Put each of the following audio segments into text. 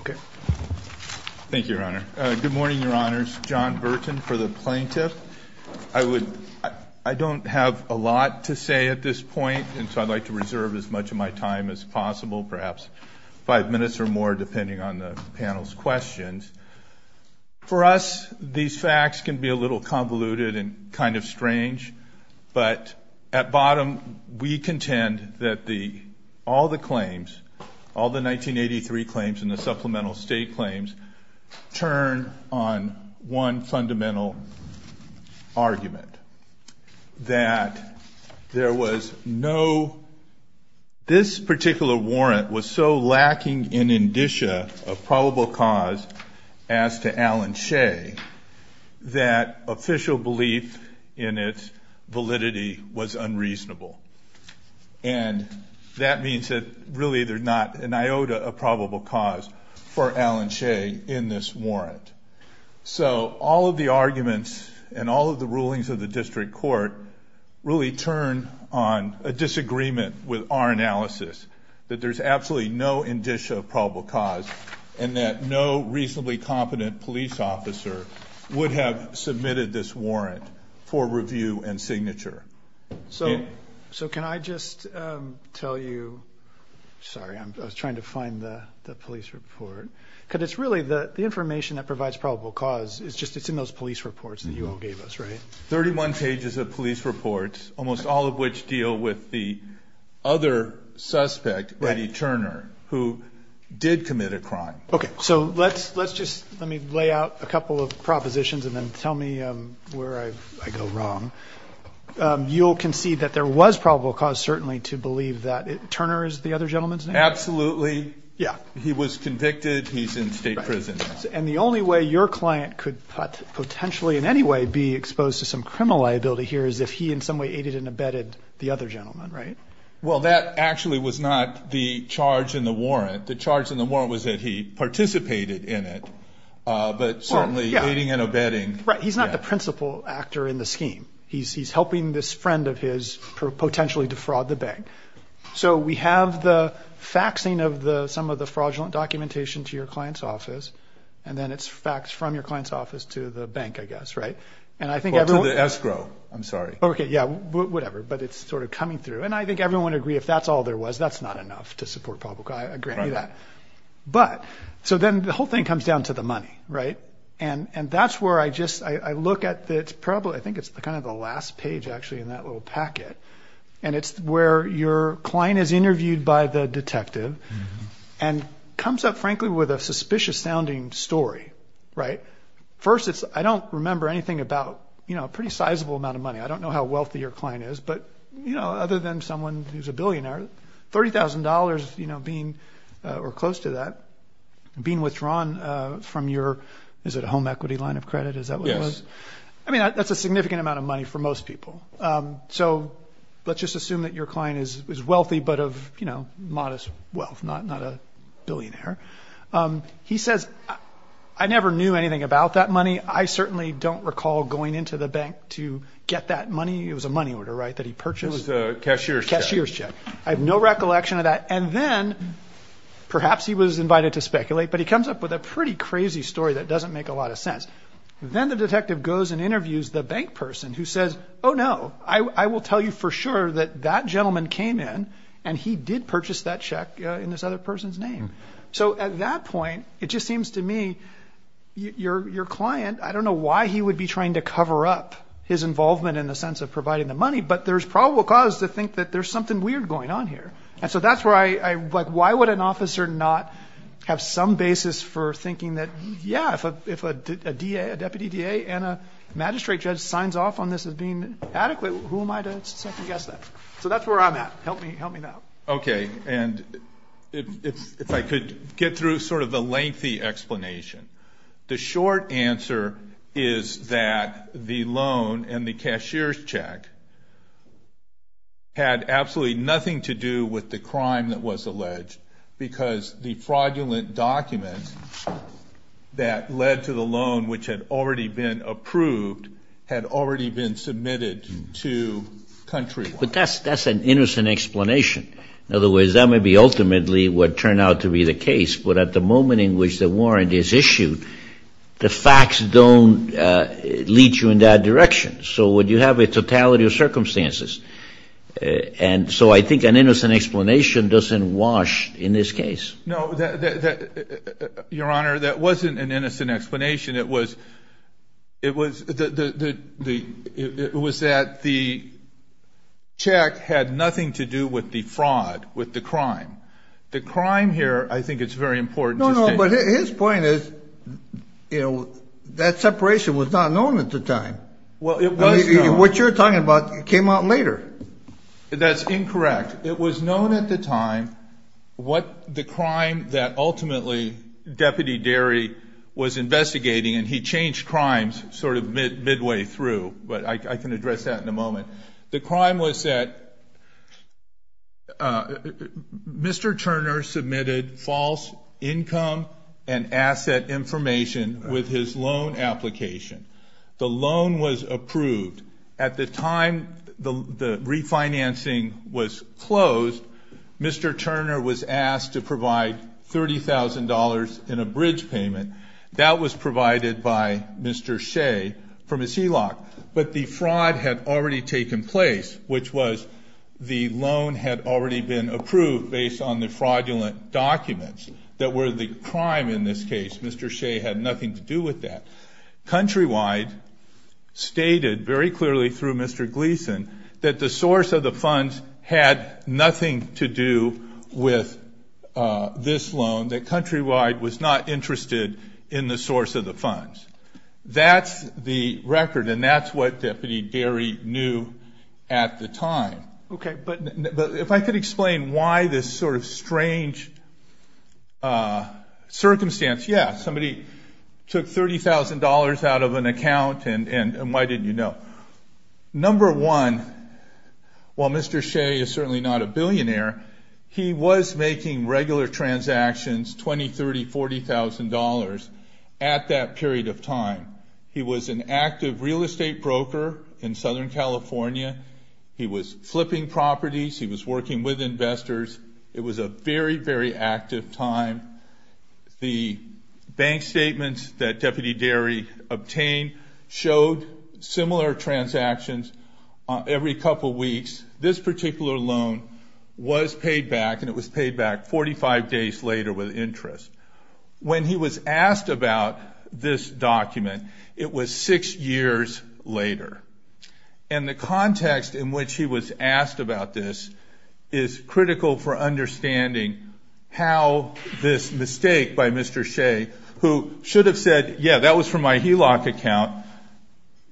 Okay. Thank you, Your Honor. Good morning, Your Honors. John Burton for the plaintiff. I would, I don't have a lot to say at this point, and so I'd like to reserve as much of my time as possible, perhaps five minutes or more depending on the panel's questions. For us, these facts can be a little convoluted and kind of strange, but at bottom, we contend that the, all the claims, all the 1983 claims and the supplemental state claims turn on one fundamental argument. That there was no, this particular warrant was so lacking in indicia of probable cause as to Alan Shay that official belief in its validity was unreasonable. And that means that really there's not an iota of probable cause for Alan Shay in this warrant. So all of the arguments and all of the rulings of the district court really turn on a disagreement with our analysis that there's absolutely no indicia of probable cause and that no reasonably competent police officer would have submitted this warrant for review and signature. So, so can I just tell you, sorry, I was trying to find the police report, because it's really the information that provides probable cause is just, it's in those police reports that you all gave us, right? 31 pages of police reports, almost all of which deal with the other suspect, Eddie Turner, who did commit a crime. Okay. So let's, let's just, let me lay out a couple of propositions and then tell me where I go wrong. You'll concede that there was probable cause certainly to believe that Turner is the other gentleman's name? Absolutely. Yeah. He was convicted. He's in state prison. And the only way your client could potentially in any way be exposed to some criminal liability here is if he in some way aided and abetted the other gentleman, right? Well, that actually was not the charge in the warrant. The charge in the warrant was that he participated in it, but certainly aiding and abetting. Right. He's not the principal actor in the scheme. He's, he's helping this friend of his potentially defraud the bank. So we have the faxing of the, some of the fraudulent documentation to your client's office, and then it's faxed from your client's office to the bank, I guess, right? And I think everyone... To the escrow. I'm sorry. Okay. Yeah. Whatever. But it's sort of coming through. And I think everyone would agree if that's all there was, that's not enough to support probable cause. I agree with that. But, so then the whole thing comes down to the money, right? And, and that's where I just, I look at the, it's probably, I think it's kind of the last page actually in that little packet. And it's where your client is interviewed by the detective and comes up frankly with a suspicious sounding story, right? First it's, I don't remember anything about, you know, a pretty sizable amount of money. I don't know how wealthy your client is, but you know, other than someone who's a billionaire, $30,000, you know, being, or close to that, being withdrawn from your, is it a home equity line of credit? Is that what it was? Yes. I mean, that's a significant amount of money for most people. So let's just assume that your client is, is wealthy, but of, you know, modest wealth, not, not a billionaire. He says, I never knew anything about that money. I certainly don't recall going into the bank to get that money. It was a money order, right? That he purchased. It was a cashier's check. Cashier's check. I have no recollection of that. And then perhaps he was invited to speculate, but he comes up with a pretty crazy story that doesn't make a lot of sense. Then the detective goes and interviews the bank person who says, oh no, I will tell you for sure that that gentleman came in and he did purchase that check in this other person's name. So at that point, it just seems to me your, your client, I don't know why he would be trying to cover up his involvement in the sense of providing the money, but there's probable cause to think that there's something weird going on here. And so that's where I, I like, why would an officer not have some basis for thinking that, yeah, if a, if a DA, a deputy DA and a magistrate judge signs off on this as being adequate, who am I to second guess that? So that's where I'm at. Help me, help me now. Okay. And if, if I could get through sort of the lengthy explanation. The short answer is that the loan and the cashier's check had absolutely nothing to do with the crime that was alleged because the fraudulent document that led to the loan, which had already been approved, had already been submitted to Countrywide. But that's, that's an innocent explanation. In other words, that may be ultimately what turned out to be the case, but at the moment in which the warrant is issued, the facts don't lead you in that direction. So would you have a totality of circumstances? And so I think an innocent explanation doesn't wash in this case. No, that, that, your honor, that wasn't an innocent explanation. It was, it was the, the, the, it was that the check had nothing to do with the fraud, with the crime. The crime here, I think it's very important. No, no, but his point is, you know, that separation was not known at the time. Well, it was known. What you're talking about came out later. That's incorrect. It was known at the time what the crime that ultimately Deputy Derry was investigating, and he changed crimes sort of midway through, but I can address that in a moment. The crime was that Mr. Turner submitted false income and asset information with his loan application. The loan was approved. At the time the refinancing was closed, Mr. Turner was asked to provide $30,000 in a bridge payment. That was provided by Mr. Shea from his HELOC, but the fraud had already taken place, which was the loan had already been approved based on the fraudulent documents that were the crime in this case. Mr. Shea had nothing to do with that. Countrywide stated very clearly through Mr. Gleason that the source of the funds had nothing to do with this loan, that Countrywide was not interested in the source of the funds. That's the record, and that's what Deputy Derry knew at the time. Okay, but if I could explain why this sort of strange circumstance. Yeah, somebody took $30,000 out of an account, and why didn't you know? Number one, while Mr. Shea is certainly not a billionaire, he was making regular transactions, $20,000, $30,000, $40,000 at that period of time. He was an active real estate broker in Southern California. He was flipping properties. He was working with investors. It was a very, very active time. The bank statements that Deputy Derry obtained showed similar transactions every couple weeks. This particular loan was paid back, and it was paid back 45 days later with interest. When he was asked about this document, it was six years later. And the context in which he was asked about this is critical for understanding how this mistake by Mr. Shea, who should have said, yeah, that was from my HELOC account.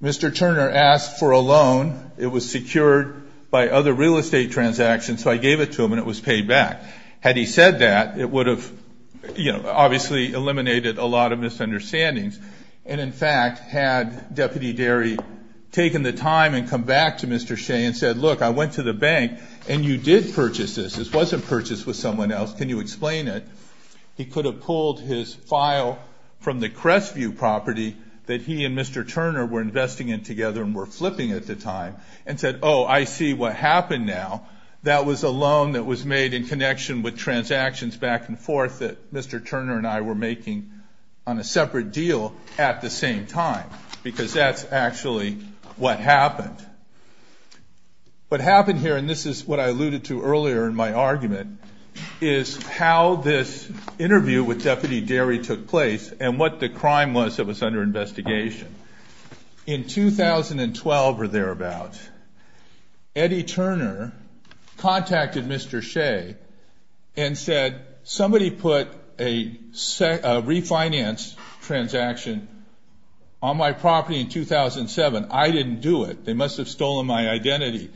Mr. Turner asked for a loan. It was secured by other real estate transactions, so I gave it to him, and it was paid back. Had he said that, it would have, you know, obviously eliminated a lot of misunderstandings. And in fact, had Deputy Derry taken the time and come back to Mr. Shea and said, look, I went to the bank, and you did purchase this. This wasn't purchased with someone else. Can you explain it? He could have pulled his file from the Crestview property that he and Mr. Turner were investing in together and were flipping at the time, and said, oh, I see what happened now. That was a loan that was made in connection with transactions back and forth that Mr. Turner and I were making on a separate deal at the same time, because that's actually what happened. What happened here, and this is what I alluded to earlier in my argument, is how this interview with Deputy Derry took place and what the crime was that was under investigation. In 2012 or thereabout, Eddie Turner contacted Mr. Shea and said, somebody put a refinance transaction on my property in 2007. I didn't do it. They must have stolen my identity.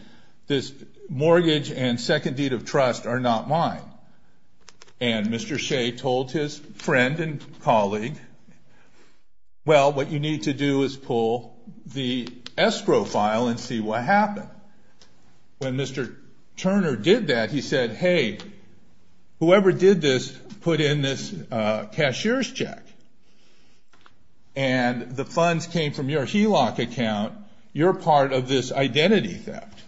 This mortgage and second deed of trust are not mine. And Mr. Shea told his friend and colleague, well, what you need to do is pull the escrow file and see what happened. When Mr. Turner did that, he said, hey, whoever did this put in this cashier's check, and the funds came from your HELOC account. You're part of this identity theft.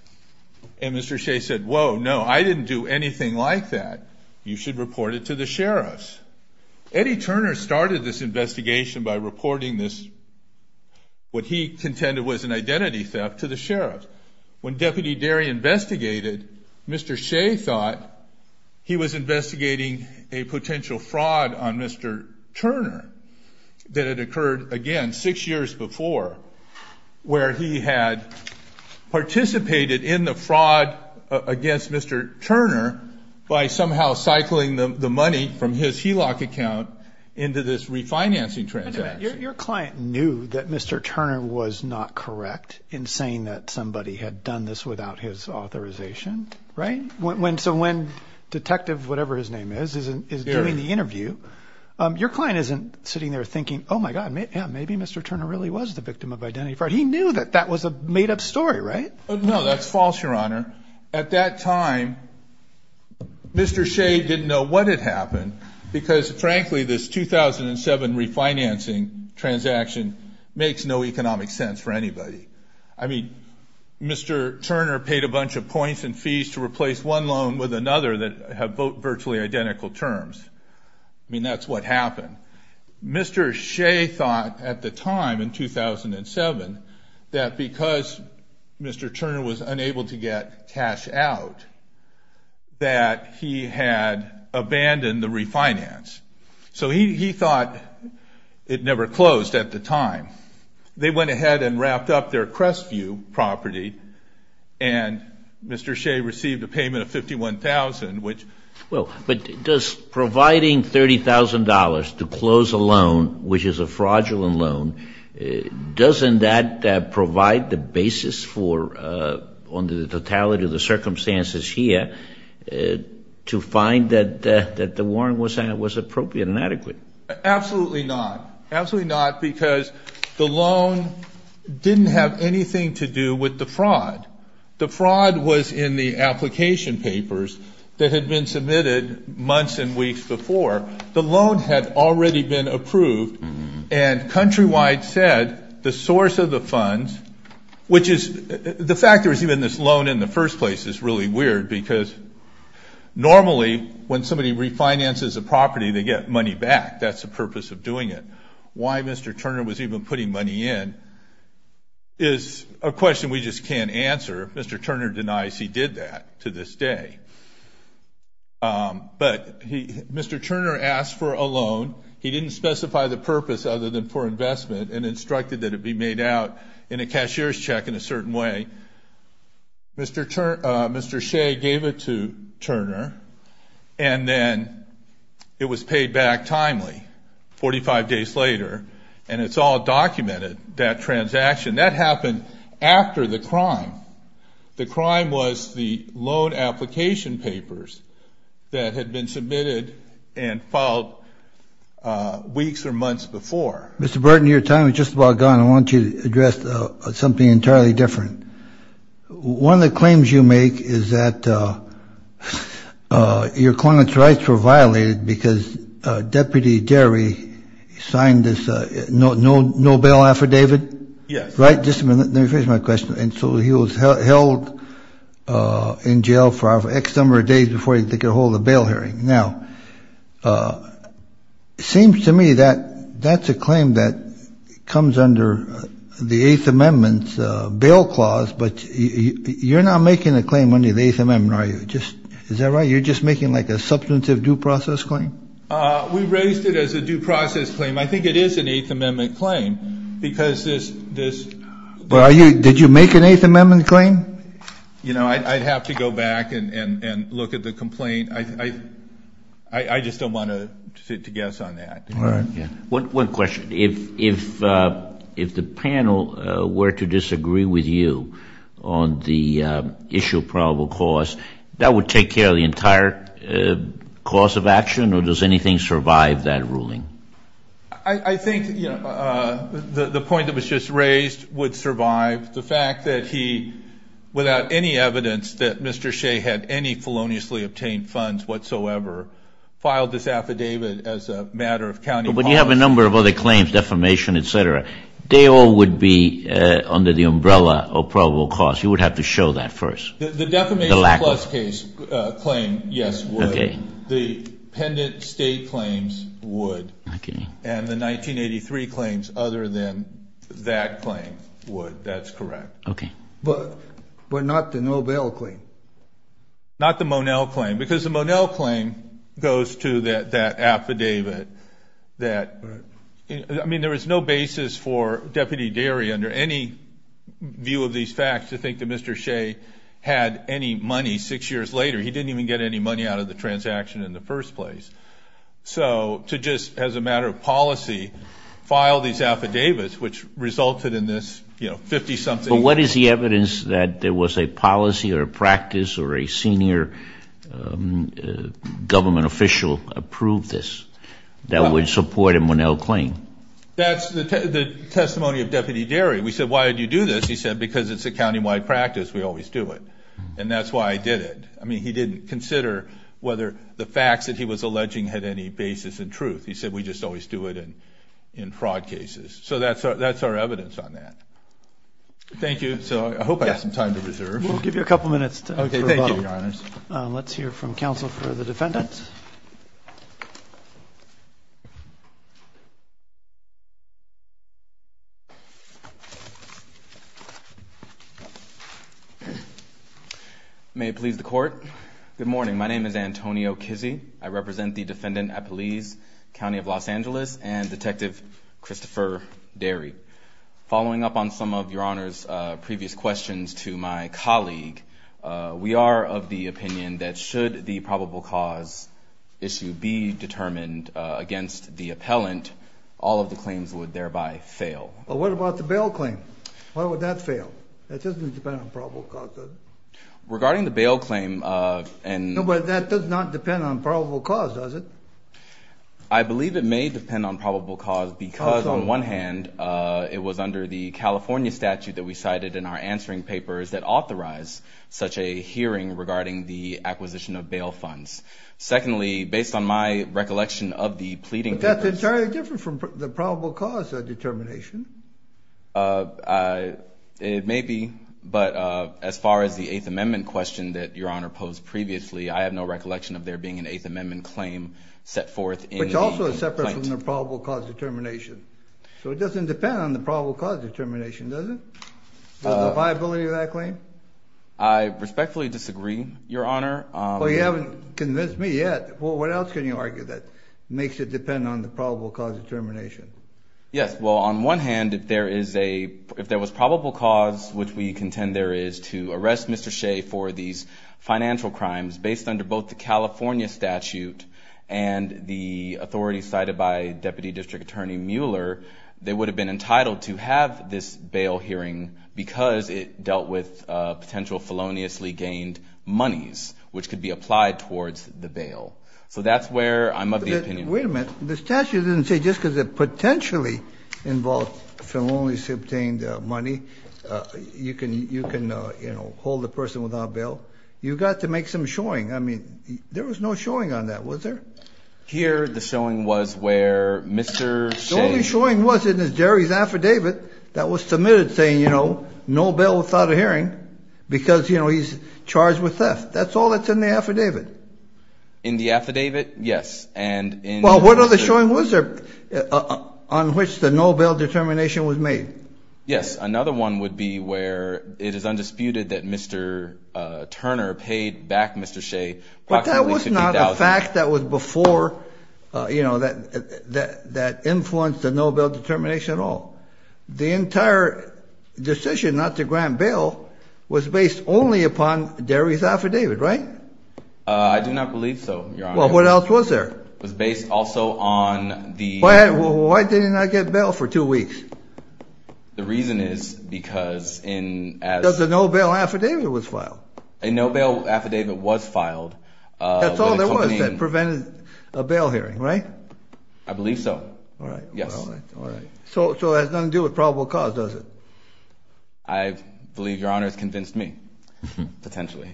And Mr. Shea said, whoa, no, I didn't do anything like that. You should report it to the sheriffs. Eddie Turner started this investigation by reporting this, what he contended was an identity theft, to the sheriff. When Deputy Derry investigated, Mr. Shea thought he was investigating a potential fraud on Mr. Turner that had occurred, again, six years before, where he had participated in the fraud against Mr. Turner by somehow cycling the money from his HELOC account into this refinancing transaction. Your client knew that Mr. Turner was not correct in saying that somebody had done this without his authorization, right? So when Detective whatever his name is is doing the interview, your client isn't sitting there thinking, oh, my God, maybe Mr. Turner really was the victim of identity fraud. He knew that that was a made-up story, right? No, that's false, Your Honor. At that time, Mr. Shea didn't know what had happened because, frankly, this 2007 refinancing transaction makes no economic sense for anybody. I mean, Mr. Turner paid a bunch of points and fees to replace one loan with another that have virtually identical terms. I mean, that's what happened. Mr. Shea thought at the time in 2007 that because Mr. Turner was unable to get cash out that he had abandoned the refinance. So he thought it never closed at the time. They went ahead and wrapped up their Crestview property, and Mr. Shea received a payment of $51,000, which Well, but does providing $30,000 to close a loan, which is a fraudulent loan, doesn't that provide the basis for under the totality of the circumstances here to find that the warrant was appropriate and adequate? Absolutely not. Absolutely not because the loan didn't have anything to do with the fraud. The fraud was in the application papers that had been submitted months and weeks before. The loan had already been approved, and Countrywide said the source of the funds, which is the fact there was even this loan in the first place is really weird, because normally when somebody refinances a property, they get money back. That's the purpose of doing it. Why Mr. Turner was even putting money in is a question we just can't answer. Mr. Turner denies he did that to this day. But Mr. Turner asked for a loan. He didn't specify the purpose other than for investment and instructed that it be made out in a cashier's check in a certain way. And Mr. Shea gave it to Turner, and then it was paid back timely, 45 days later. And it's all documented, that transaction. That happened after the crime. The crime was the loan application papers that had been submitted and filed weeks or months before. Mr. Burton, your time is just about gone. I want you to address something entirely different. One of the claims you make is that your client's rights were violated because Deputy Derry signed this no-bail affidavit. Yes. Right? Let me finish my question. And so he was held in jail for X number of days before they could hold a bail hearing. Now, it seems to me that that's a claim that comes under the Eighth Amendment's bail clause. But you're not making a claim under the Eighth Amendment, are you? Is that right? You're just making like a substantive due process claim? We raised it as a due process claim. I think it is an Eighth Amendment claim because this. Did you make an Eighth Amendment claim? You know, I'd have to go back and look at the complaint. I just don't want to guess on that. All right. One question. If the panel were to disagree with you on the issue of probable cause, that would take care of the entire cause of action, or does anything survive that ruling? I think, you know, the point that was just raised would survive. The fact that he, without any evidence that Mr. Shea had any feloniously obtained funds whatsoever, filed this affidavit as a matter of county policy. But you have a number of other claims, defamation, et cetera. They all would be under the umbrella of probable cause. You would have to show that first. The defamation plus case claim, yes, would. The pendant state claims would. Okay. And the 1983 claims other than that claim would. That's correct. Okay. But not the Nobel claim. Not the Monel claim because the Monel claim goes to that affidavit that, I mean, there was no basis for Deputy Derry under any view of these facts to think that Mr. Shea had any money six years later. He didn't even get any money out of the transaction in the first place. So to just, as a matter of policy, file these affidavits, which resulted in this, you know, 50-something. But what is the evidence that there was a policy or a practice or a senior government official approved this that would support a Monel claim? That's the testimony of Deputy Derry. We said, why did you do this? He said, because it's a county-wide practice. We always do it. And that's why I did it. I mean, he didn't consider whether the facts that he was alleging had any basis in truth. He said, we just always do it in fraud cases. So that's our evidence on that. Thank you. So I hope I have some time to reserve. We'll give you a couple minutes. Okay. Thank you, Your Honors. Let's hear from counsel for the defendants. May it please the Court. Good morning. My name is Antonio Kizzee. I represent the defendant at Police County of Los Angeles and Detective Christopher Derry. Following up on some of Your Honors' previous questions to my colleague, we are of the opinion that should the probable cause issue be determined against the appellant, all of the claims would thereby fail. But what about the bail claim? Why would that fail? That doesn't depend on probable cause, does it? Regarding the bail claim, and – No, but that does not depend on probable cause, does it? I believe it may depend on probable cause because, on one hand, it was under the California statute that we cited in our answering papers that authorized such a hearing regarding the acquisition of bail funds. Secondly, based on my recollection of the pleading – But that's entirely different from the probable cause determination. It may be, but as far as the Eighth Amendment question that Your Honor posed previously, I have no recollection of there being an Eighth Amendment claim set forth in the – Which also is separate from the probable cause determination. So it doesn't depend on the probable cause determination, does it? The viability of that claim? I respectfully disagree, Your Honor. Well, you haven't convinced me yet. What else can you argue that makes it depend on the probable cause determination? Yes, well, on one hand, if there is a – if there was probable cause, which we contend there is, to arrest Mr. Shea for these financial crimes, based under both the California statute and the authority cited by Deputy District Attorney Mueller, they would have been entitled to have this bail hearing because it dealt with potential feloniously gained monies, which could be applied towards the bail. So that's where I'm of the opinion – Wait a minute. The statute didn't say just because it potentially involved feloniously obtained money, you can, you know, hold the person without bail. You've got to make some showing. I mean, there was no showing on that, was there? Here the showing was where Mr. Shea – The only showing was in Jerry's affidavit that was submitted saying, you know, no bail without a hearing because, you know, he's charged with theft. That's all that's in the affidavit. In the affidavit, yes, and in – Well, what other showing was there on which the no bail determination was made? Yes, another one would be where it is undisputed that Mr. Turner paid back Mr. Shea approximately $50,000. But that was not a fact that was before, you know, that influenced the no bail determination at all. The entire decision not to grant bail was based only upon Jerry's affidavit, right? I do not believe so, Your Honor. Well, what else was there? It was based also on the – Why did he not get bail for two weeks? The reason is because in – Because a no bail affidavit was filed. A no bail affidavit was filed. That's all there was that prevented a bail hearing, right? I believe so. All right. Yes. All right. So it has nothing to do with probable cause, does it? I believe Your Honor has convinced me, potentially.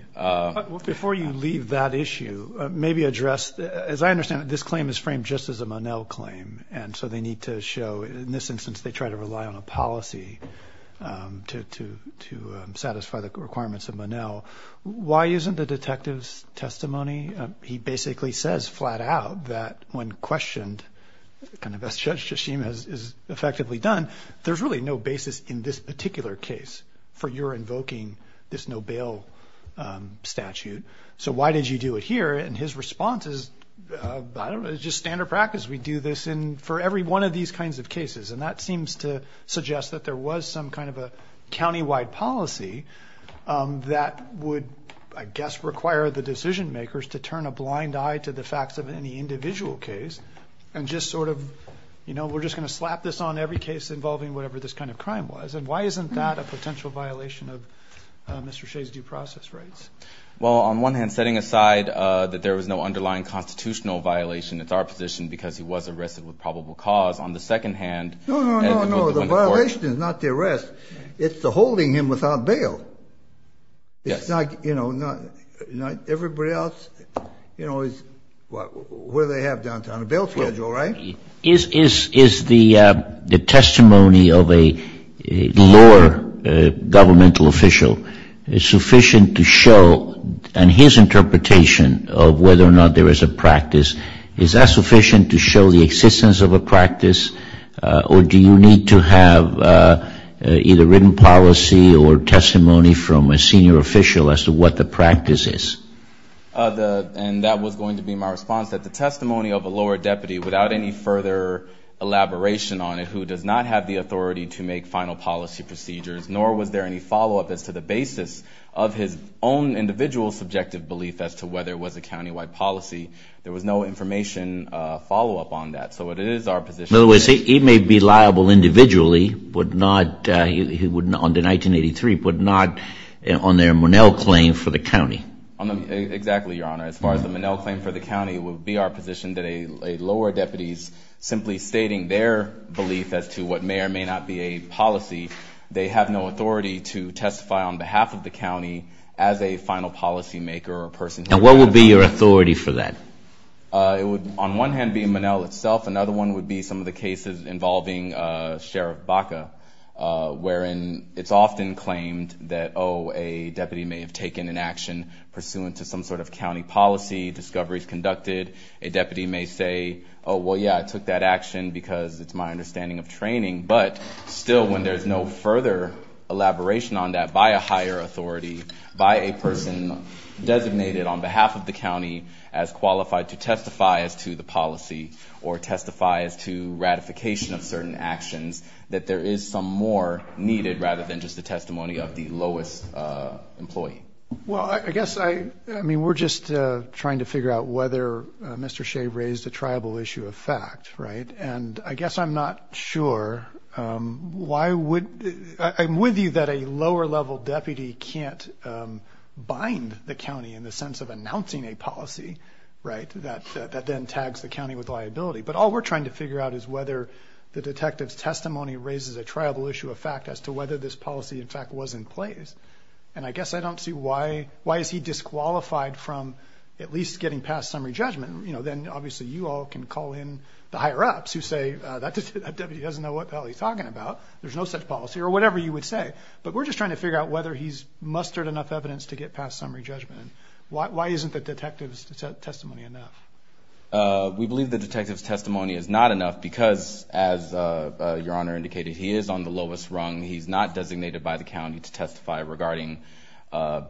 Before you leave that issue, maybe address – as I understand it, this claim is framed just as a Monell claim, and so they need to show – in this instance, they try to rely on a policy to satisfy the requirements of Monell. Why isn't the detective's testimony – he basically says flat out that when questioned, kind of as Judge Shishim has effectively done, there's really no basis in this particular case for your invoking this no bail statute. So why did you do it here? And his response is, I don't know, just standard practice. We do this for every one of these kinds of cases. And that seems to suggest that there was some kind of a countywide policy that would, I guess, require the decision makers to turn a blind eye to the facts of any individual case and just sort of, you know, we're just going to slap this on every case involving whatever this kind of crime was. And why isn't that a potential violation of Mr. Shea's due process rights? Well, on one hand, setting aside that there was no underlying constitutional violation, it's our position because he was arrested with probable cause. On the second hand – No, no, no, no. The violation is not the arrest. It's the holding him without bail. Yes. It's not, you know, not – everybody else, you know, is – where they have downtown a bail schedule, right? Is the testimony of a lower governmental official sufficient to show, and his interpretation of whether or not there is a practice, is that sufficient to show the existence of a practice, or do you need to have either written policy or testimony from a senior official as to what the practice is? And that was going to be my response, that the testimony of a lower deputy, without any further elaboration on it, who does not have the authority to make final policy procedures, nor was there any follow-up as to the basis of his own individual subjective belief as to whether it was a countywide policy. There was no information follow-up on that. So it is our position – In other words, he may be liable individually, but not – on the 1983, but not on their Monell claim for the county. Exactly, Your Honor. As far as the Monell claim for the county, it would be our position that a lower deputy simply stating their belief as to what may or may not be a policy, they have no authority to testify on behalf of the county as a final policymaker or person. And what would be your authority for that? It would, on one hand, be Monell itself. Another one would be some of the cases involving Sheriff Baca, wherein it's often claimed that, oh, a deputy may have taken an action pursuant to some sort of county policy, discoveries conducted. A deputy may say, oh, well, yeah, I took that action because it's my understanding of training. But still, when there's no further elaboration on that by a higher authority, by a person designated on behalf of the county as qualified to testify as to the policy or testify as to ratification of certain actions, that there is some more needed rather than just the testimony of the lowest employee. Well, I guess I mean we're just trying to figure out whether Mr. Shea raised a triable issue of fact, right? And I guess I'm not sure. Why would I'm with you that a lower level deputy can't bind the county in the sense of announcing a policy, right? That then tags the county with liability. But all we're trying to figure out is whether the detective's testimony raises a triable issue of fact as to whether this policy, in fact, was in place. And I guess I don't see why is he disqualified from at least getting past summary judgment. Then, obviously, you all can call in the higher-ups who say that deputy doesn't know what the hell he's talking about. There's no such policy or whatever you would say. But we're just trying to figure out whether he's mustered enough evidence to get past summary judgment. Why isn't the detective's testimony enough? We believe the detective's testimony is not enough because, as Your Honor indicated, he is on the lowest rung. He's not designated by the county to testify regarding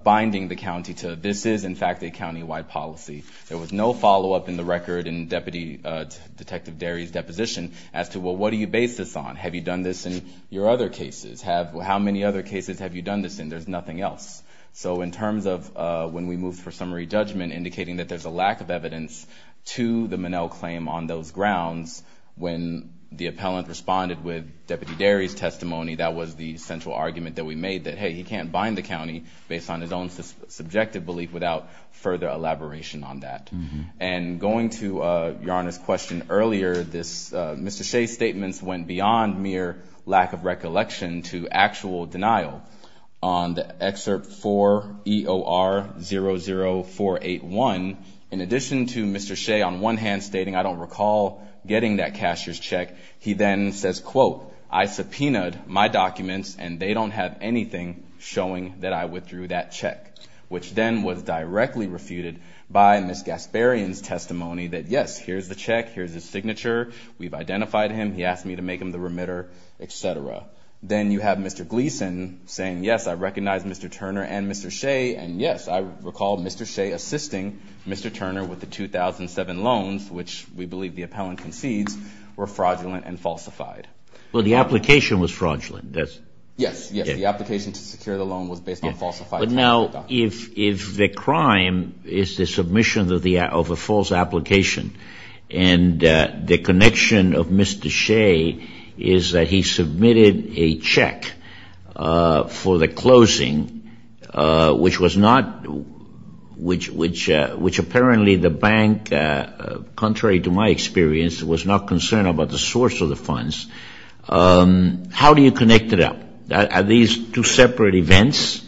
binding the county to this is, in fact, a countywide policy. There was no follow-up in the record in Deputy Detective Derry's deposition as to, well, what do you base this on? Have you done this in your other cases? How many other cases have you done this in? There's nothing else. So in terms of when we moved for summary judgment, indicating that there's a lack of evidence to the Minnell claim on those grounds, when the appellant responded with Deputy Derry's testimony, that was the central argument that we made, that, hey, he can't bind the county based on his own subjective belief without further elaboration on that. And going to Your Honor's question earlier, Mr. Shea's statements went beyond mere lack of recollection to actual denial. On the Excerpt 4 EOR 00481, in addition to Mr. Shea on one hand stating, I don't recall getting that cashier's check, he then says, quote, I subpoenaed my documents, and they don't have anything showing that I withdrew that check, which then was directly refuted by Ms. Gasparian's testimony that, yes, here's the check, here's his signature, we've identified him, he asked me to make him the remitter, et cetera. Then you have Mr. Gleeson saying, yes, I recognize Mr. Turner and Mr. Shea, and yes, I recall Mr. Shea assisting Mr. Turner with the 2007 loans, which we believe the appellant concedes were fraudulent and falsified. Well, the application was fraudulent. Yes, yes, the application to secure the loan was based on falsified documents. Now, if the crime is the submission of a false application and the connection of Mr. Shea is that he submitted a check for the closing, which was not, which apparently the bank, contrary to my experience, was not concerned about the source of the funds, how do you connect it up? Are these two separate events?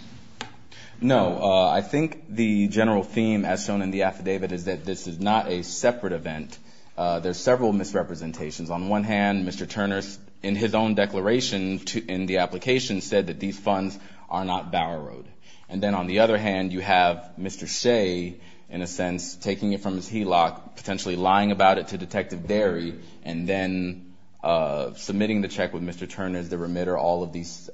No. I think the general theme as shown in the affidavit is that this is not a separate event. There's several misrepresentations. On one hand, Mr. Turner, in his own declaration in the application, said that these funds are not Bower Road. And then on the other hand, you have Mr. Shea, in a sense, taking it from his HELOC, potentially lying about it to Detective Derry, and then submitting the check with Mr. Turner as the remitter. All of these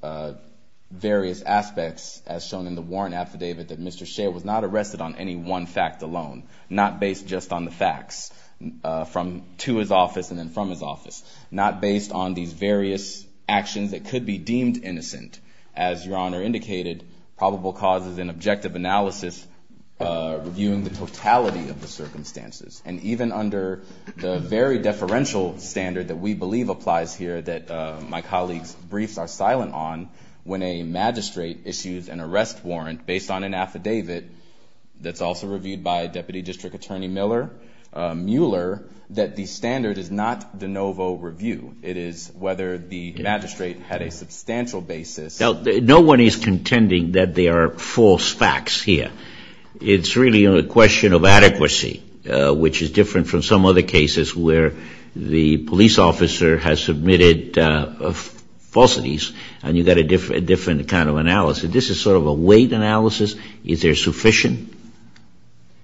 various aspects, as shown in the warrant affidavit, that Mr. Shea was not arrested on any one fact alone, not based just on the facts to his office and then from his office, not based on these various actions that could be deemed innocent. As Your Honor indicated, probable cause is an objective analysis reviewing the totality of the circumstances. And even under the very deferential standard that we believe applies here that my colleagues' briefs are silent on, when a magistrate issues an arrest warrant based on an affidavit that's also reviewed by Deputy District Attorney Mueller, that the standard is not de novo review. It is whether the magistrate had a substantial basis. No one is contending that there are false facts here. It's really a question of adequacy, which is different from some other cases where the police officer has submitted falsities and you've got a different kind of analysis. This is sort of a weight analysis. Is there sufficient?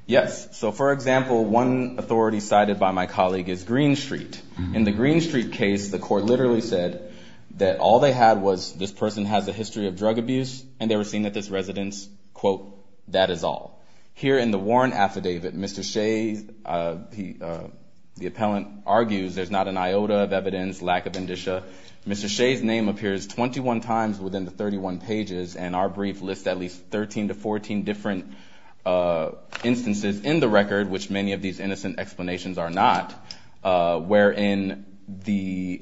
Yes. So, for example, one authority cited by my colleague is Green Street. In the Green Street case, the court literally said that all they had was this person has a history of drug abuse and they were seeing at this residence, quote, that is all. Here in the warrant affidavit, Mr. Shea, the appellant argues there's not an iota of evidence, lack of indicia. Mr. Shea's name appears 21 times within the 31 pages and our brief lists at least 13 to 14 different instances in the record, which many of these innocent explanations are not, wherein the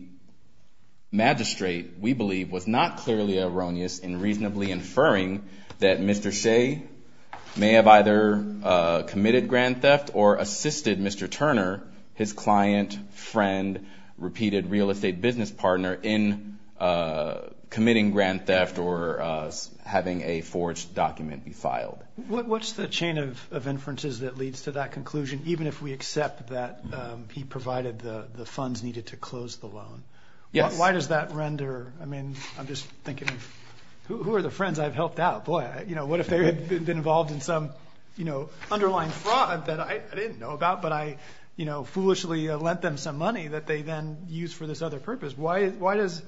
magistrate, we believe, was not clearly erroneous in reasonably inferring that Mr. Shea may have either committed grand theft or assisted Mr. Turner, his client, friend, repeated real estate business partner, in committing grand theft or having a forged document be filed. What's the chain of inferences that leads to that conclusion, even if we accept that he provided the funds needed to close the loan? Yes. Why does that render? I mean, I'm just thinking, who are the friends I've helped out? Boy, you know, what if they had been involved in some, you know, underlying fraud that I didn't know about, but I, you know, foolishly lent them some money that they then used for this other purpose? Why does,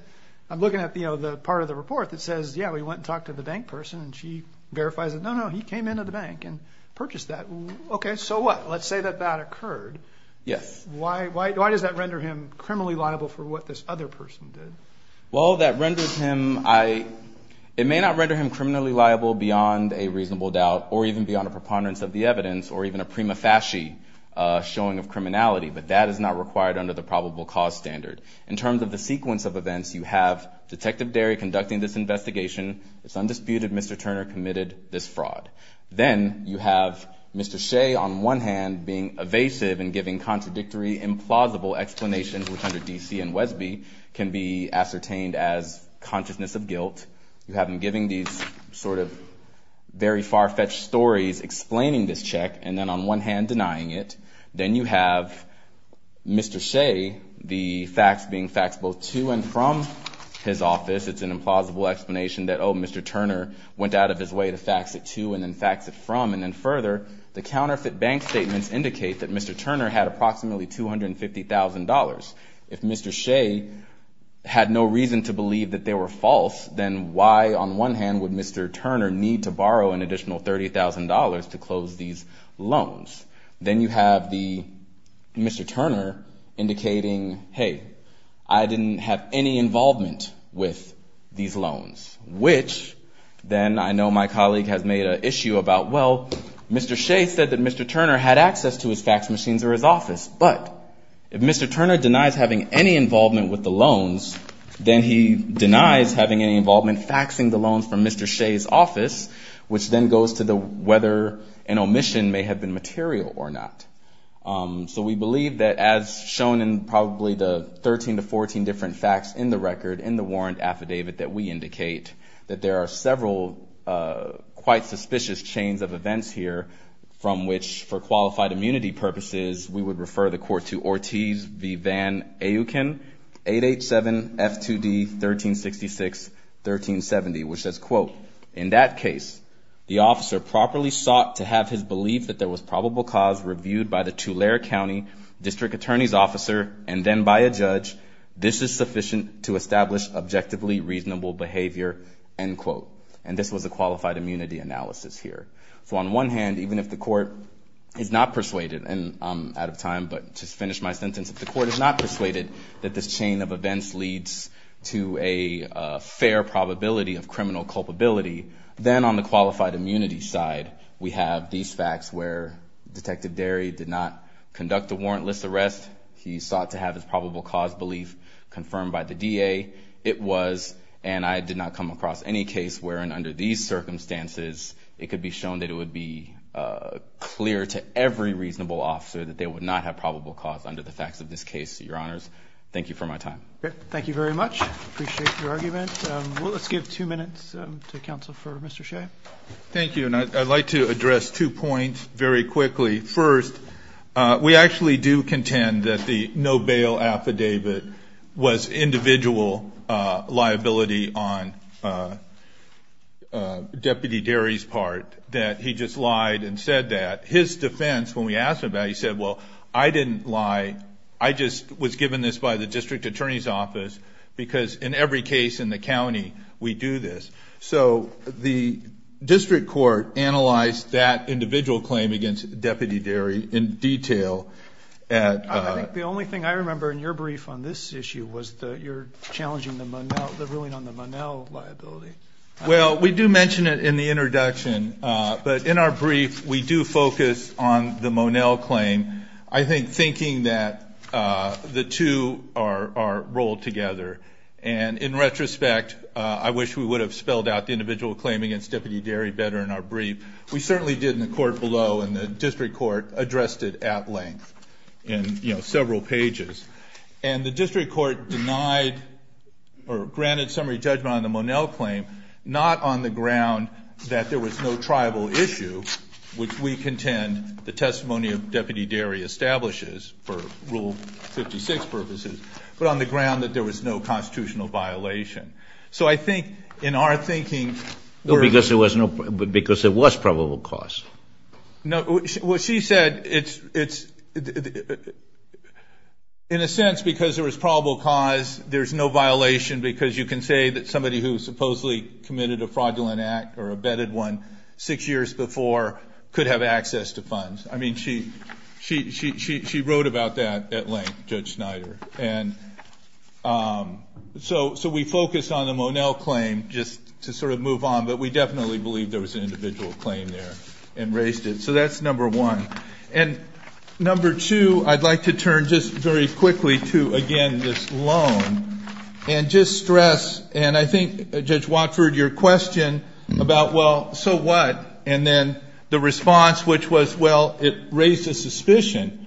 I'm looking at, you know, the part of the report that says, yeah, we went and talked to the bank person and she verifies that, no, no, he came into the bank and purchased that. Okay, so what? Let's say that that occurred. Yes. Why does that render him criminally liable for what this other person did? Well, that renders him, it may not render him criminally liable beyond a reasonable doubt or even beyond a preponderance of the evidence or even a prima facie showing of criminality, but that is not required under the probable cause standard. In terms of the sequence of events, you have Detective Derry conducting this investigation. It's undisputed Mr. Turner committed this fraud. Then you have Mr. Shea on one hand being evasive and giving contradictory, implausible explanations, which under D.C. and Wesby can be ascertained as consciousness of guilt. You have him giving these sort of very far-fetched stories explaining this check and then on one hand denying it. Then you have Mr. Shea, the facts being facts both to and from his office. It's an implausible explanation that, oh, Mr. Turner went out of his way to fax it to and then fax it from, and then further, the counterfeit bank statements indicate that Mr. Turner had approximately $250,000. If Mr. Shea had no reason to believe that they were false, then why on one hand would Mr. Turner need to borrow an additional $30,000 to close these loans? Then you have Mr. Turner indicating, hey, I didn't have any involvement with these loans, which then I know my colleague has made an issue about, well, Mr. Shea said that Mr. Turner had access to his fax machines or his office, but if Mr. Turner denies having any involvement with the loans, then he denies having any involvement faxing the loans from Mr. Shea's office, which then goes to whether an omission may have been material or not. So we believe that as shown in probably the 13 to 14 different facts in the record in the warrant affidavit that we indicate, that there are several quite suspicious chains of events here from which, for qualified immunity purposes, we would refer the court to Ortiz v. Van Auken, 887 F2D 1366-1370, which says, quote, in that case, the officer properly sought to have his belief that there was probable cause reviewed by the Tulare County District Attorney's officer and then by a judge. This is sufficient to establish objectively reasonable behavior, end quote. And this was a qualified immunity analysis here. So on one hand, even if the court is not persuaded, and I'm out of time, but to finish my sentence, if the court is not persuaded that this chain of events leads to a fair probability of criminal culpability, then on the qualified immunity side, we have these facts where Detective Derry did not conduct a warrantless arrest. He sought to have his probable cause belief confirmed by the DA. It was, and I did not come across any case where, under these circumstances, it could be shown that it would be clear to every reasonable officer that they would not have probable cause under the facts of this case. Your Honors, thank you for my time. Thank you. And I'd like to address two points very quickly. First, we actually do contend that the no bail affidavit was individual liability on Deputy Derry's part, that he just lied and said that. His defense, when we asked him about it, he said, well, I didn't lie. I just was given this by the district attorney's office, because in every case in the county, we do this. So the district court analyzed that individual claim against Deputy Derry in detail. I think the only thing I remember in your brief on this issue was that you're challenging the ruling on the Monell liability. Well, we do mention it in the introduction, but in our brief, we do focus on the Monell claim, I think thinking that the two are rolled together. And in retrospect, I wish we would have spelled out the individual claim against Deputy Derry better in our brief. We certainly did in the court below, and the district court addressed it at length in several pages. And the district court denied or granted summary judgment on the Monell claim, not on the ground that there was no tribal issue, which we contend the testimony of Deputy Derry establishes for Rule 56 purposes, but on the ground that there was no constitutional violation. So I think in our thinking... Because there was probable cause. In a sense, because there was probable cause, there's no violation, because you can say that somebody who supposedly committed a fraudulent act or abetted one six years before could have access to funds. I mean, she wrote about that at length, Judge Snyder. So we focus on the Monell claim just to sort of move on, but we definitely believe there was an individual claim there and raised it. So that's number one. And number two, I'd like to turn just very quickly to, again, this loan and just stress, and I think, Judge Watford, your question about, well, so what, and then the response, which was, well, it raised a suspicion,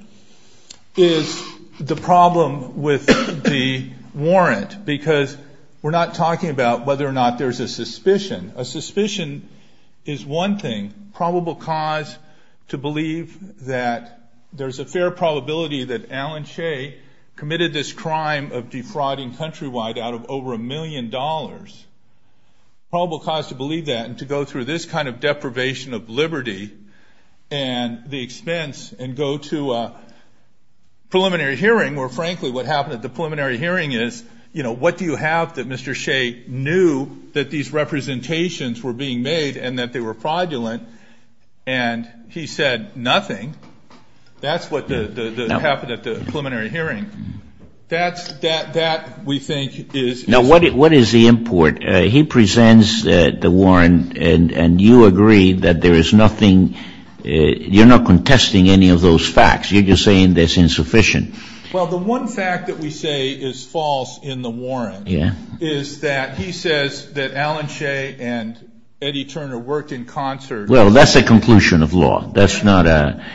is the problem with the warrant, because we're not talking about whether or not there's a suspicion. A suspicion is one thing. Probable cause to believe that there's a fair probability that Alan Shea committed this crime of defrauding countrywide out of over a million dollars. Probable cause to believe that and to go through this kind of deprivation of liberty and the expense and go to a preliminary hearing where, frankly, what happened at the preliminary hearing is, you know, what do you have that Mr. Shea knew that these representations were? And that they were fraudulent, and he said nothing. That's what happened at the preliminary hearing. That's, that we think is. Now, what is the import? He presents the warrant, and you agree that there is nothing, you're not contesting any of those facts. You're just saying that's insufficient. Well, the one fact that we say is false in the warrant is that he says that Alan Shea and Eddie Turner worked in concert. Well, that's a conclusion of law. That's not a,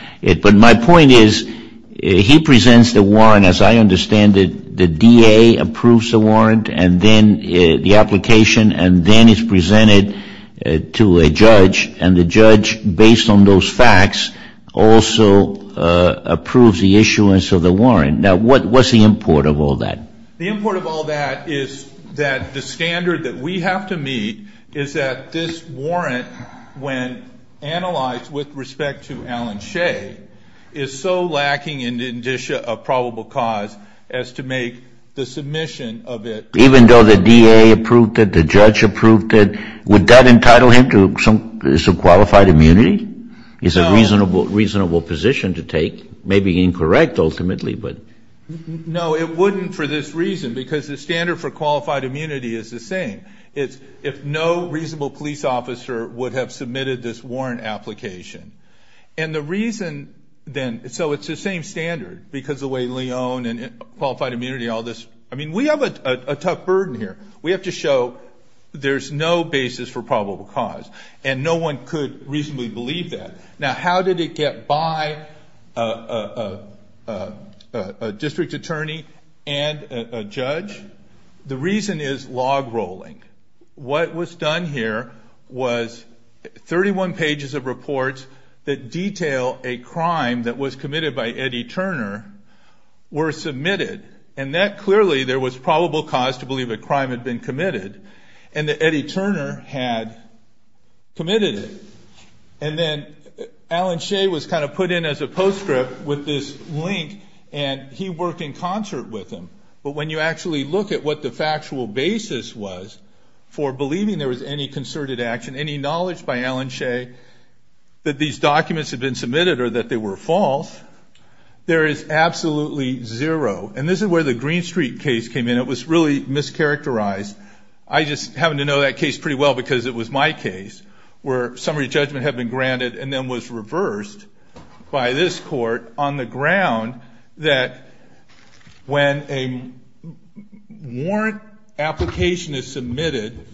but my point is, he presents the warrant, as I understand it, the DA approves the warrant, and then the application, and then it's presented to a judge, and the judge, based on those facts, also approves the issuance of the warrant. Now, what's the import of all that? The import of all that is that the standard that we have to meet is that this warrant, when analyzed with respect to Alan Shea, is so lacking in the indicia of probable cause as to make the submission of it. Even though the DA approved it, the judge approved it, would that entitle him to some qualified immunity? It's a reasonable position to take, maybe incorrect, ultimately, but. No, it wouldn't for this reason, because the standard for qualified immunity is the same. It's if no reasonable police officer would have submitted this warrant application. And the reason, then, so it's the same standard, because the way Leon and qualified immunity, all this, I mean, we have a tough burden here. We have to show there's no basis for probable cause, and no one could reasonably believe that. Now, how did it get by a district attorney and a judge? The reason is log rolling. What was done here was 31 pages of reports that detail a crime that was committed by Eddie Turner were submitted, and that clearly there was probable cause to believe a crime had been committed, and that Eddie Turner had committed it. And then Alan Shea was kind of put in as a postscript with this link, and he worked in concert with him. But when you actually look at what the factual basis was for believing there was any concerted action, any knowledge by Alan Shea that these documents had been submitted or that they were false, there is absolutely zero. And this is where the Green Street case came in. It was really mischaracterized. I just happen to know that case pretty well because it was my case where summary judgment had been granted and then was reversed by this court on the ground that when a warrant application is submitted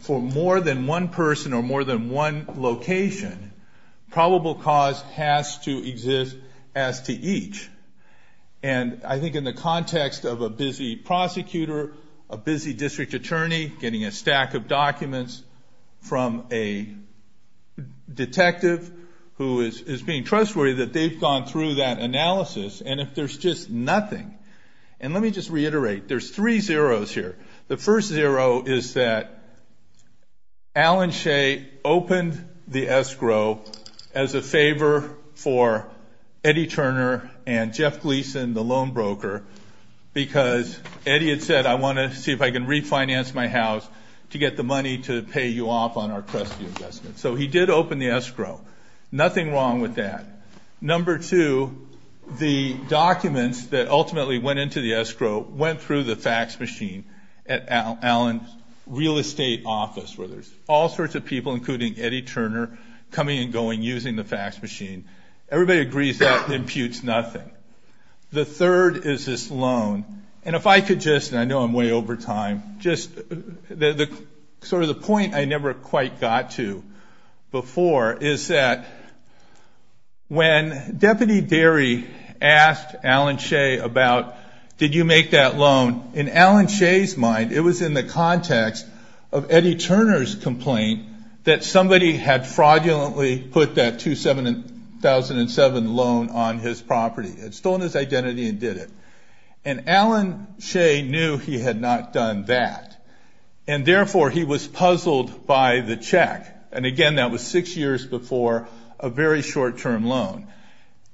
for more than one person or more than one location, probable cause has to exist as to each. And I think in the context of a busy prosecutor, a busy district attorney getting a stack of documents from a detective who is being trustworthy that they've gone through that analysis. And if there's just nothing, and let me just reiterate, there's three zeros here. The first zero is that Alan Shea opened the escrow as a favor for Eddie Turner and Jeff Gleason, the loan broker, because Eddie had said, I want to see if I can refinance my house to get the money to pay you off on our trustee investment. So he did open the escrow. Nothing wrong with that. Number two, the documents that ultimately went into the escrow went through the fax machine at Alan's real estate office where there's all sorts of people, including Eddie Turner, coming and going using the fax machine. Everybody agrees that imputes nothing. The third is this loan. And if I could just, and I know I'm way over time, just sort of the point I never quite got to before is that when Deputy Derry asked Alan Shea about did you make that loan, in Alan Shea's mind it was in the context of Eddie Turner's complaint that somebody had fraudulently put that 2007 loan on his property, had stolen his identity and did it. And Alan Shea knew he had not done that, and therefore he was puzzled by the check. And again, that was six years before a very short-term loan.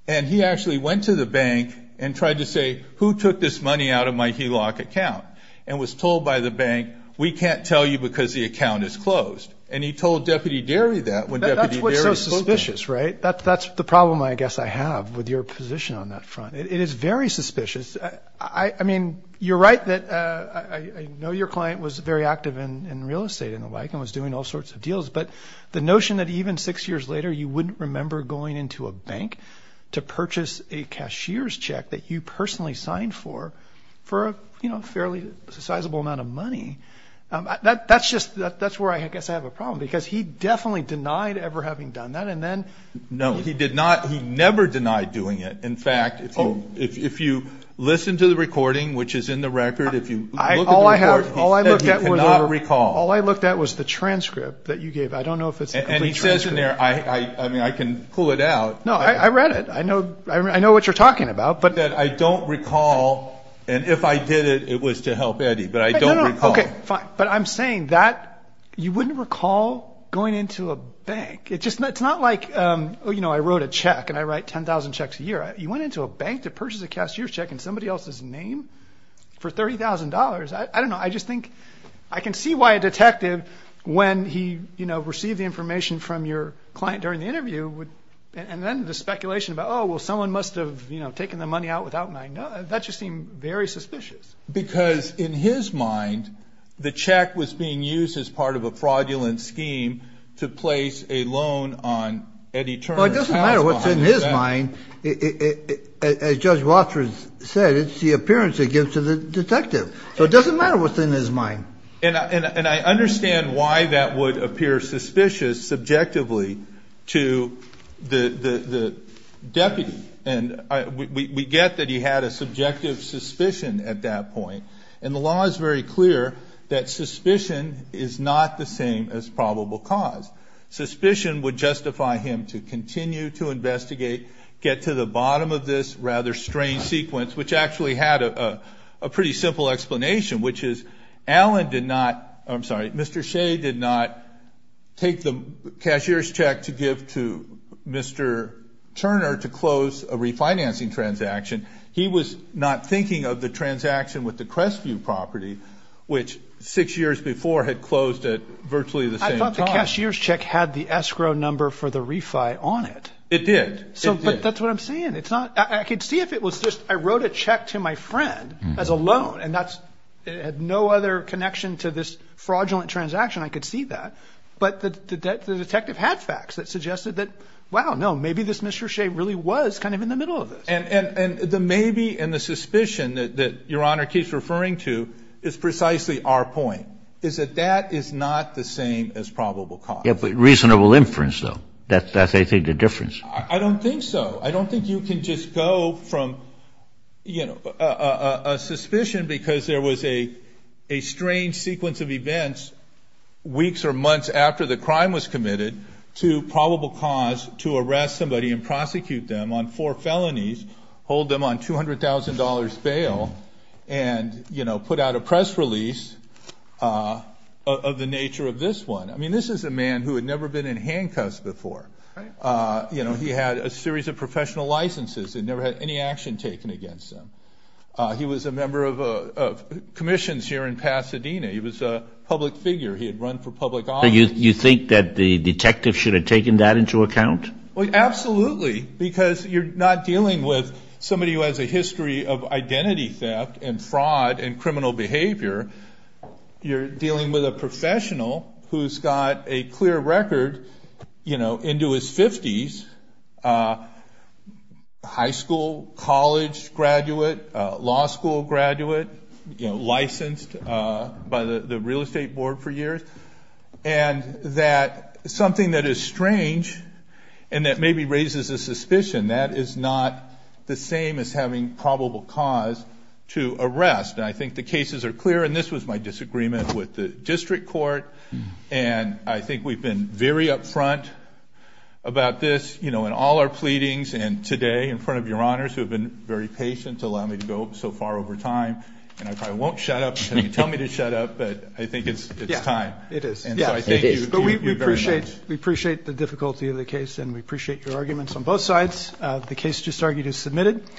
And he actually went to the bank and tried to say who took this money out of my HELOC account and was told by the bank we can't tell you because the account is closed. And he told Deputy Derry that when Deputy Derry spoke to him. That's what's so suspicious, right? That's the problem, I guess, I have with your position on that front. It is very suspicious. I mean, you're right that I know your client was very active in real estate and the like and was doing all sorts of deals, but the notion that even six years later you wouldn't remember going into a bank to purchase a cashier's check that you personally signed for for a fairly sizable amount of money, that's where I guess I have a problem because he definitely denied ever having done that. No, he did not. He never denied doing it. In fact, if you listen to the recording, which is in the record, if you look at the record, he said he cannot recall. All I looked at was the transcript that you gave. I don't know if it's a complete transcript. And he says in there, I mean, I can pull it out. No, I read it. I know what you're talking about. He said, I don't recall, and if I did it, it was to help Eddie. But I don't recall. Okay, fine. But I'm saying that you wouldn't recall going into a bank. It's not like I wrote a check and I write 10,000 checks a year. You went into a bank to purchase a cashier's check in somebody else's name for $30,000? I don't know. I just think I can see why a detective, when he received the information from your client during the interview, and then the speculation about, oh, well, someone must have taken the money out without my knowledge. That just seemed very suspicious. Because in his mind, the check was being used as part of a fraudulent scheme to place a loan on Eddie Turner's house. It doesn't matter what's in his mind. As Judge Walters said, it's the appearance it gives to the detective. So it doesn't matter what's in his mind. And I understand why that would appear suspicious subjectively to the deputy. And we get that he had a subjective suspicion at that point. And the law is very clear that suspicion is not the same as probable cause. Suspicion would justify him to continue to investigate, get to the bottom of this rather strange sequence, which actually had a pretty simple explanation, which is Allen did not, I'm sorry, Mr. Shea did not take the cashier's check to give to Mr. Turner to close a refinancing transaction. He was not thinking of the transaction with the Crestview property, which six years before had closed at virtually the same time. The cashier's check had the escrow number for the refi on it. It did. So that's what I'm saying. It's not I could see if it was just I wrote a check to my friend as a loan. And that's it had no other connection to this fraudulent transaction. I could see that. But the detective had facts that suggested that, wow, no, maybe this Mr. Shea really was kind of in the middle of it. And the maybe and the suspicion that your honor keeps referring to is precisely our point. Is that that is not the same as probable cause. Yeah, but reasonable inference, though, that that's I think the difference. I don't think so. I don't think you can just go from, you know, a suspicion because there was a a strange sequence of events. Weeks or months after the crime was committed to probable cause to arrest somebody and prosecute them on four felonies, hold them on two hundred thousand dollars bail and, you know, put out a press release of the nature of this one. I mean, this is a man who had never been in handcuffs before. You know, he had a series of professional licenses and never had any action taken against him. He was a member of commissions here in Pasadena. He was a public figure. He had run for public office. You think that the detective should have taken that into account? Well, absolutely. Because you're not dealing with somebody who has a history of identity theft and fraud and criminal behavior. You're dealing with a professional who's got a clear record, you know, into his 50s. High school, college graduate, law school graduate, you know, licensed by the real estate board for years. And that something that is strange and that maybe raises a suspicion that is not the same as having probable cause to arrest. I think the cases are clear. And this was my disagreement with the district court. And I think we've been very upfront about this, you know, in all our pleadings. And today in front of your honors who have been very patient to allow me to go so far over time. And I won't shut up until you tell me to shut up. But I think it's time. It is. But we appreciate we appreciate the difficulty of the case and we appreciate your arguments on both sides. The case just argued is submitted.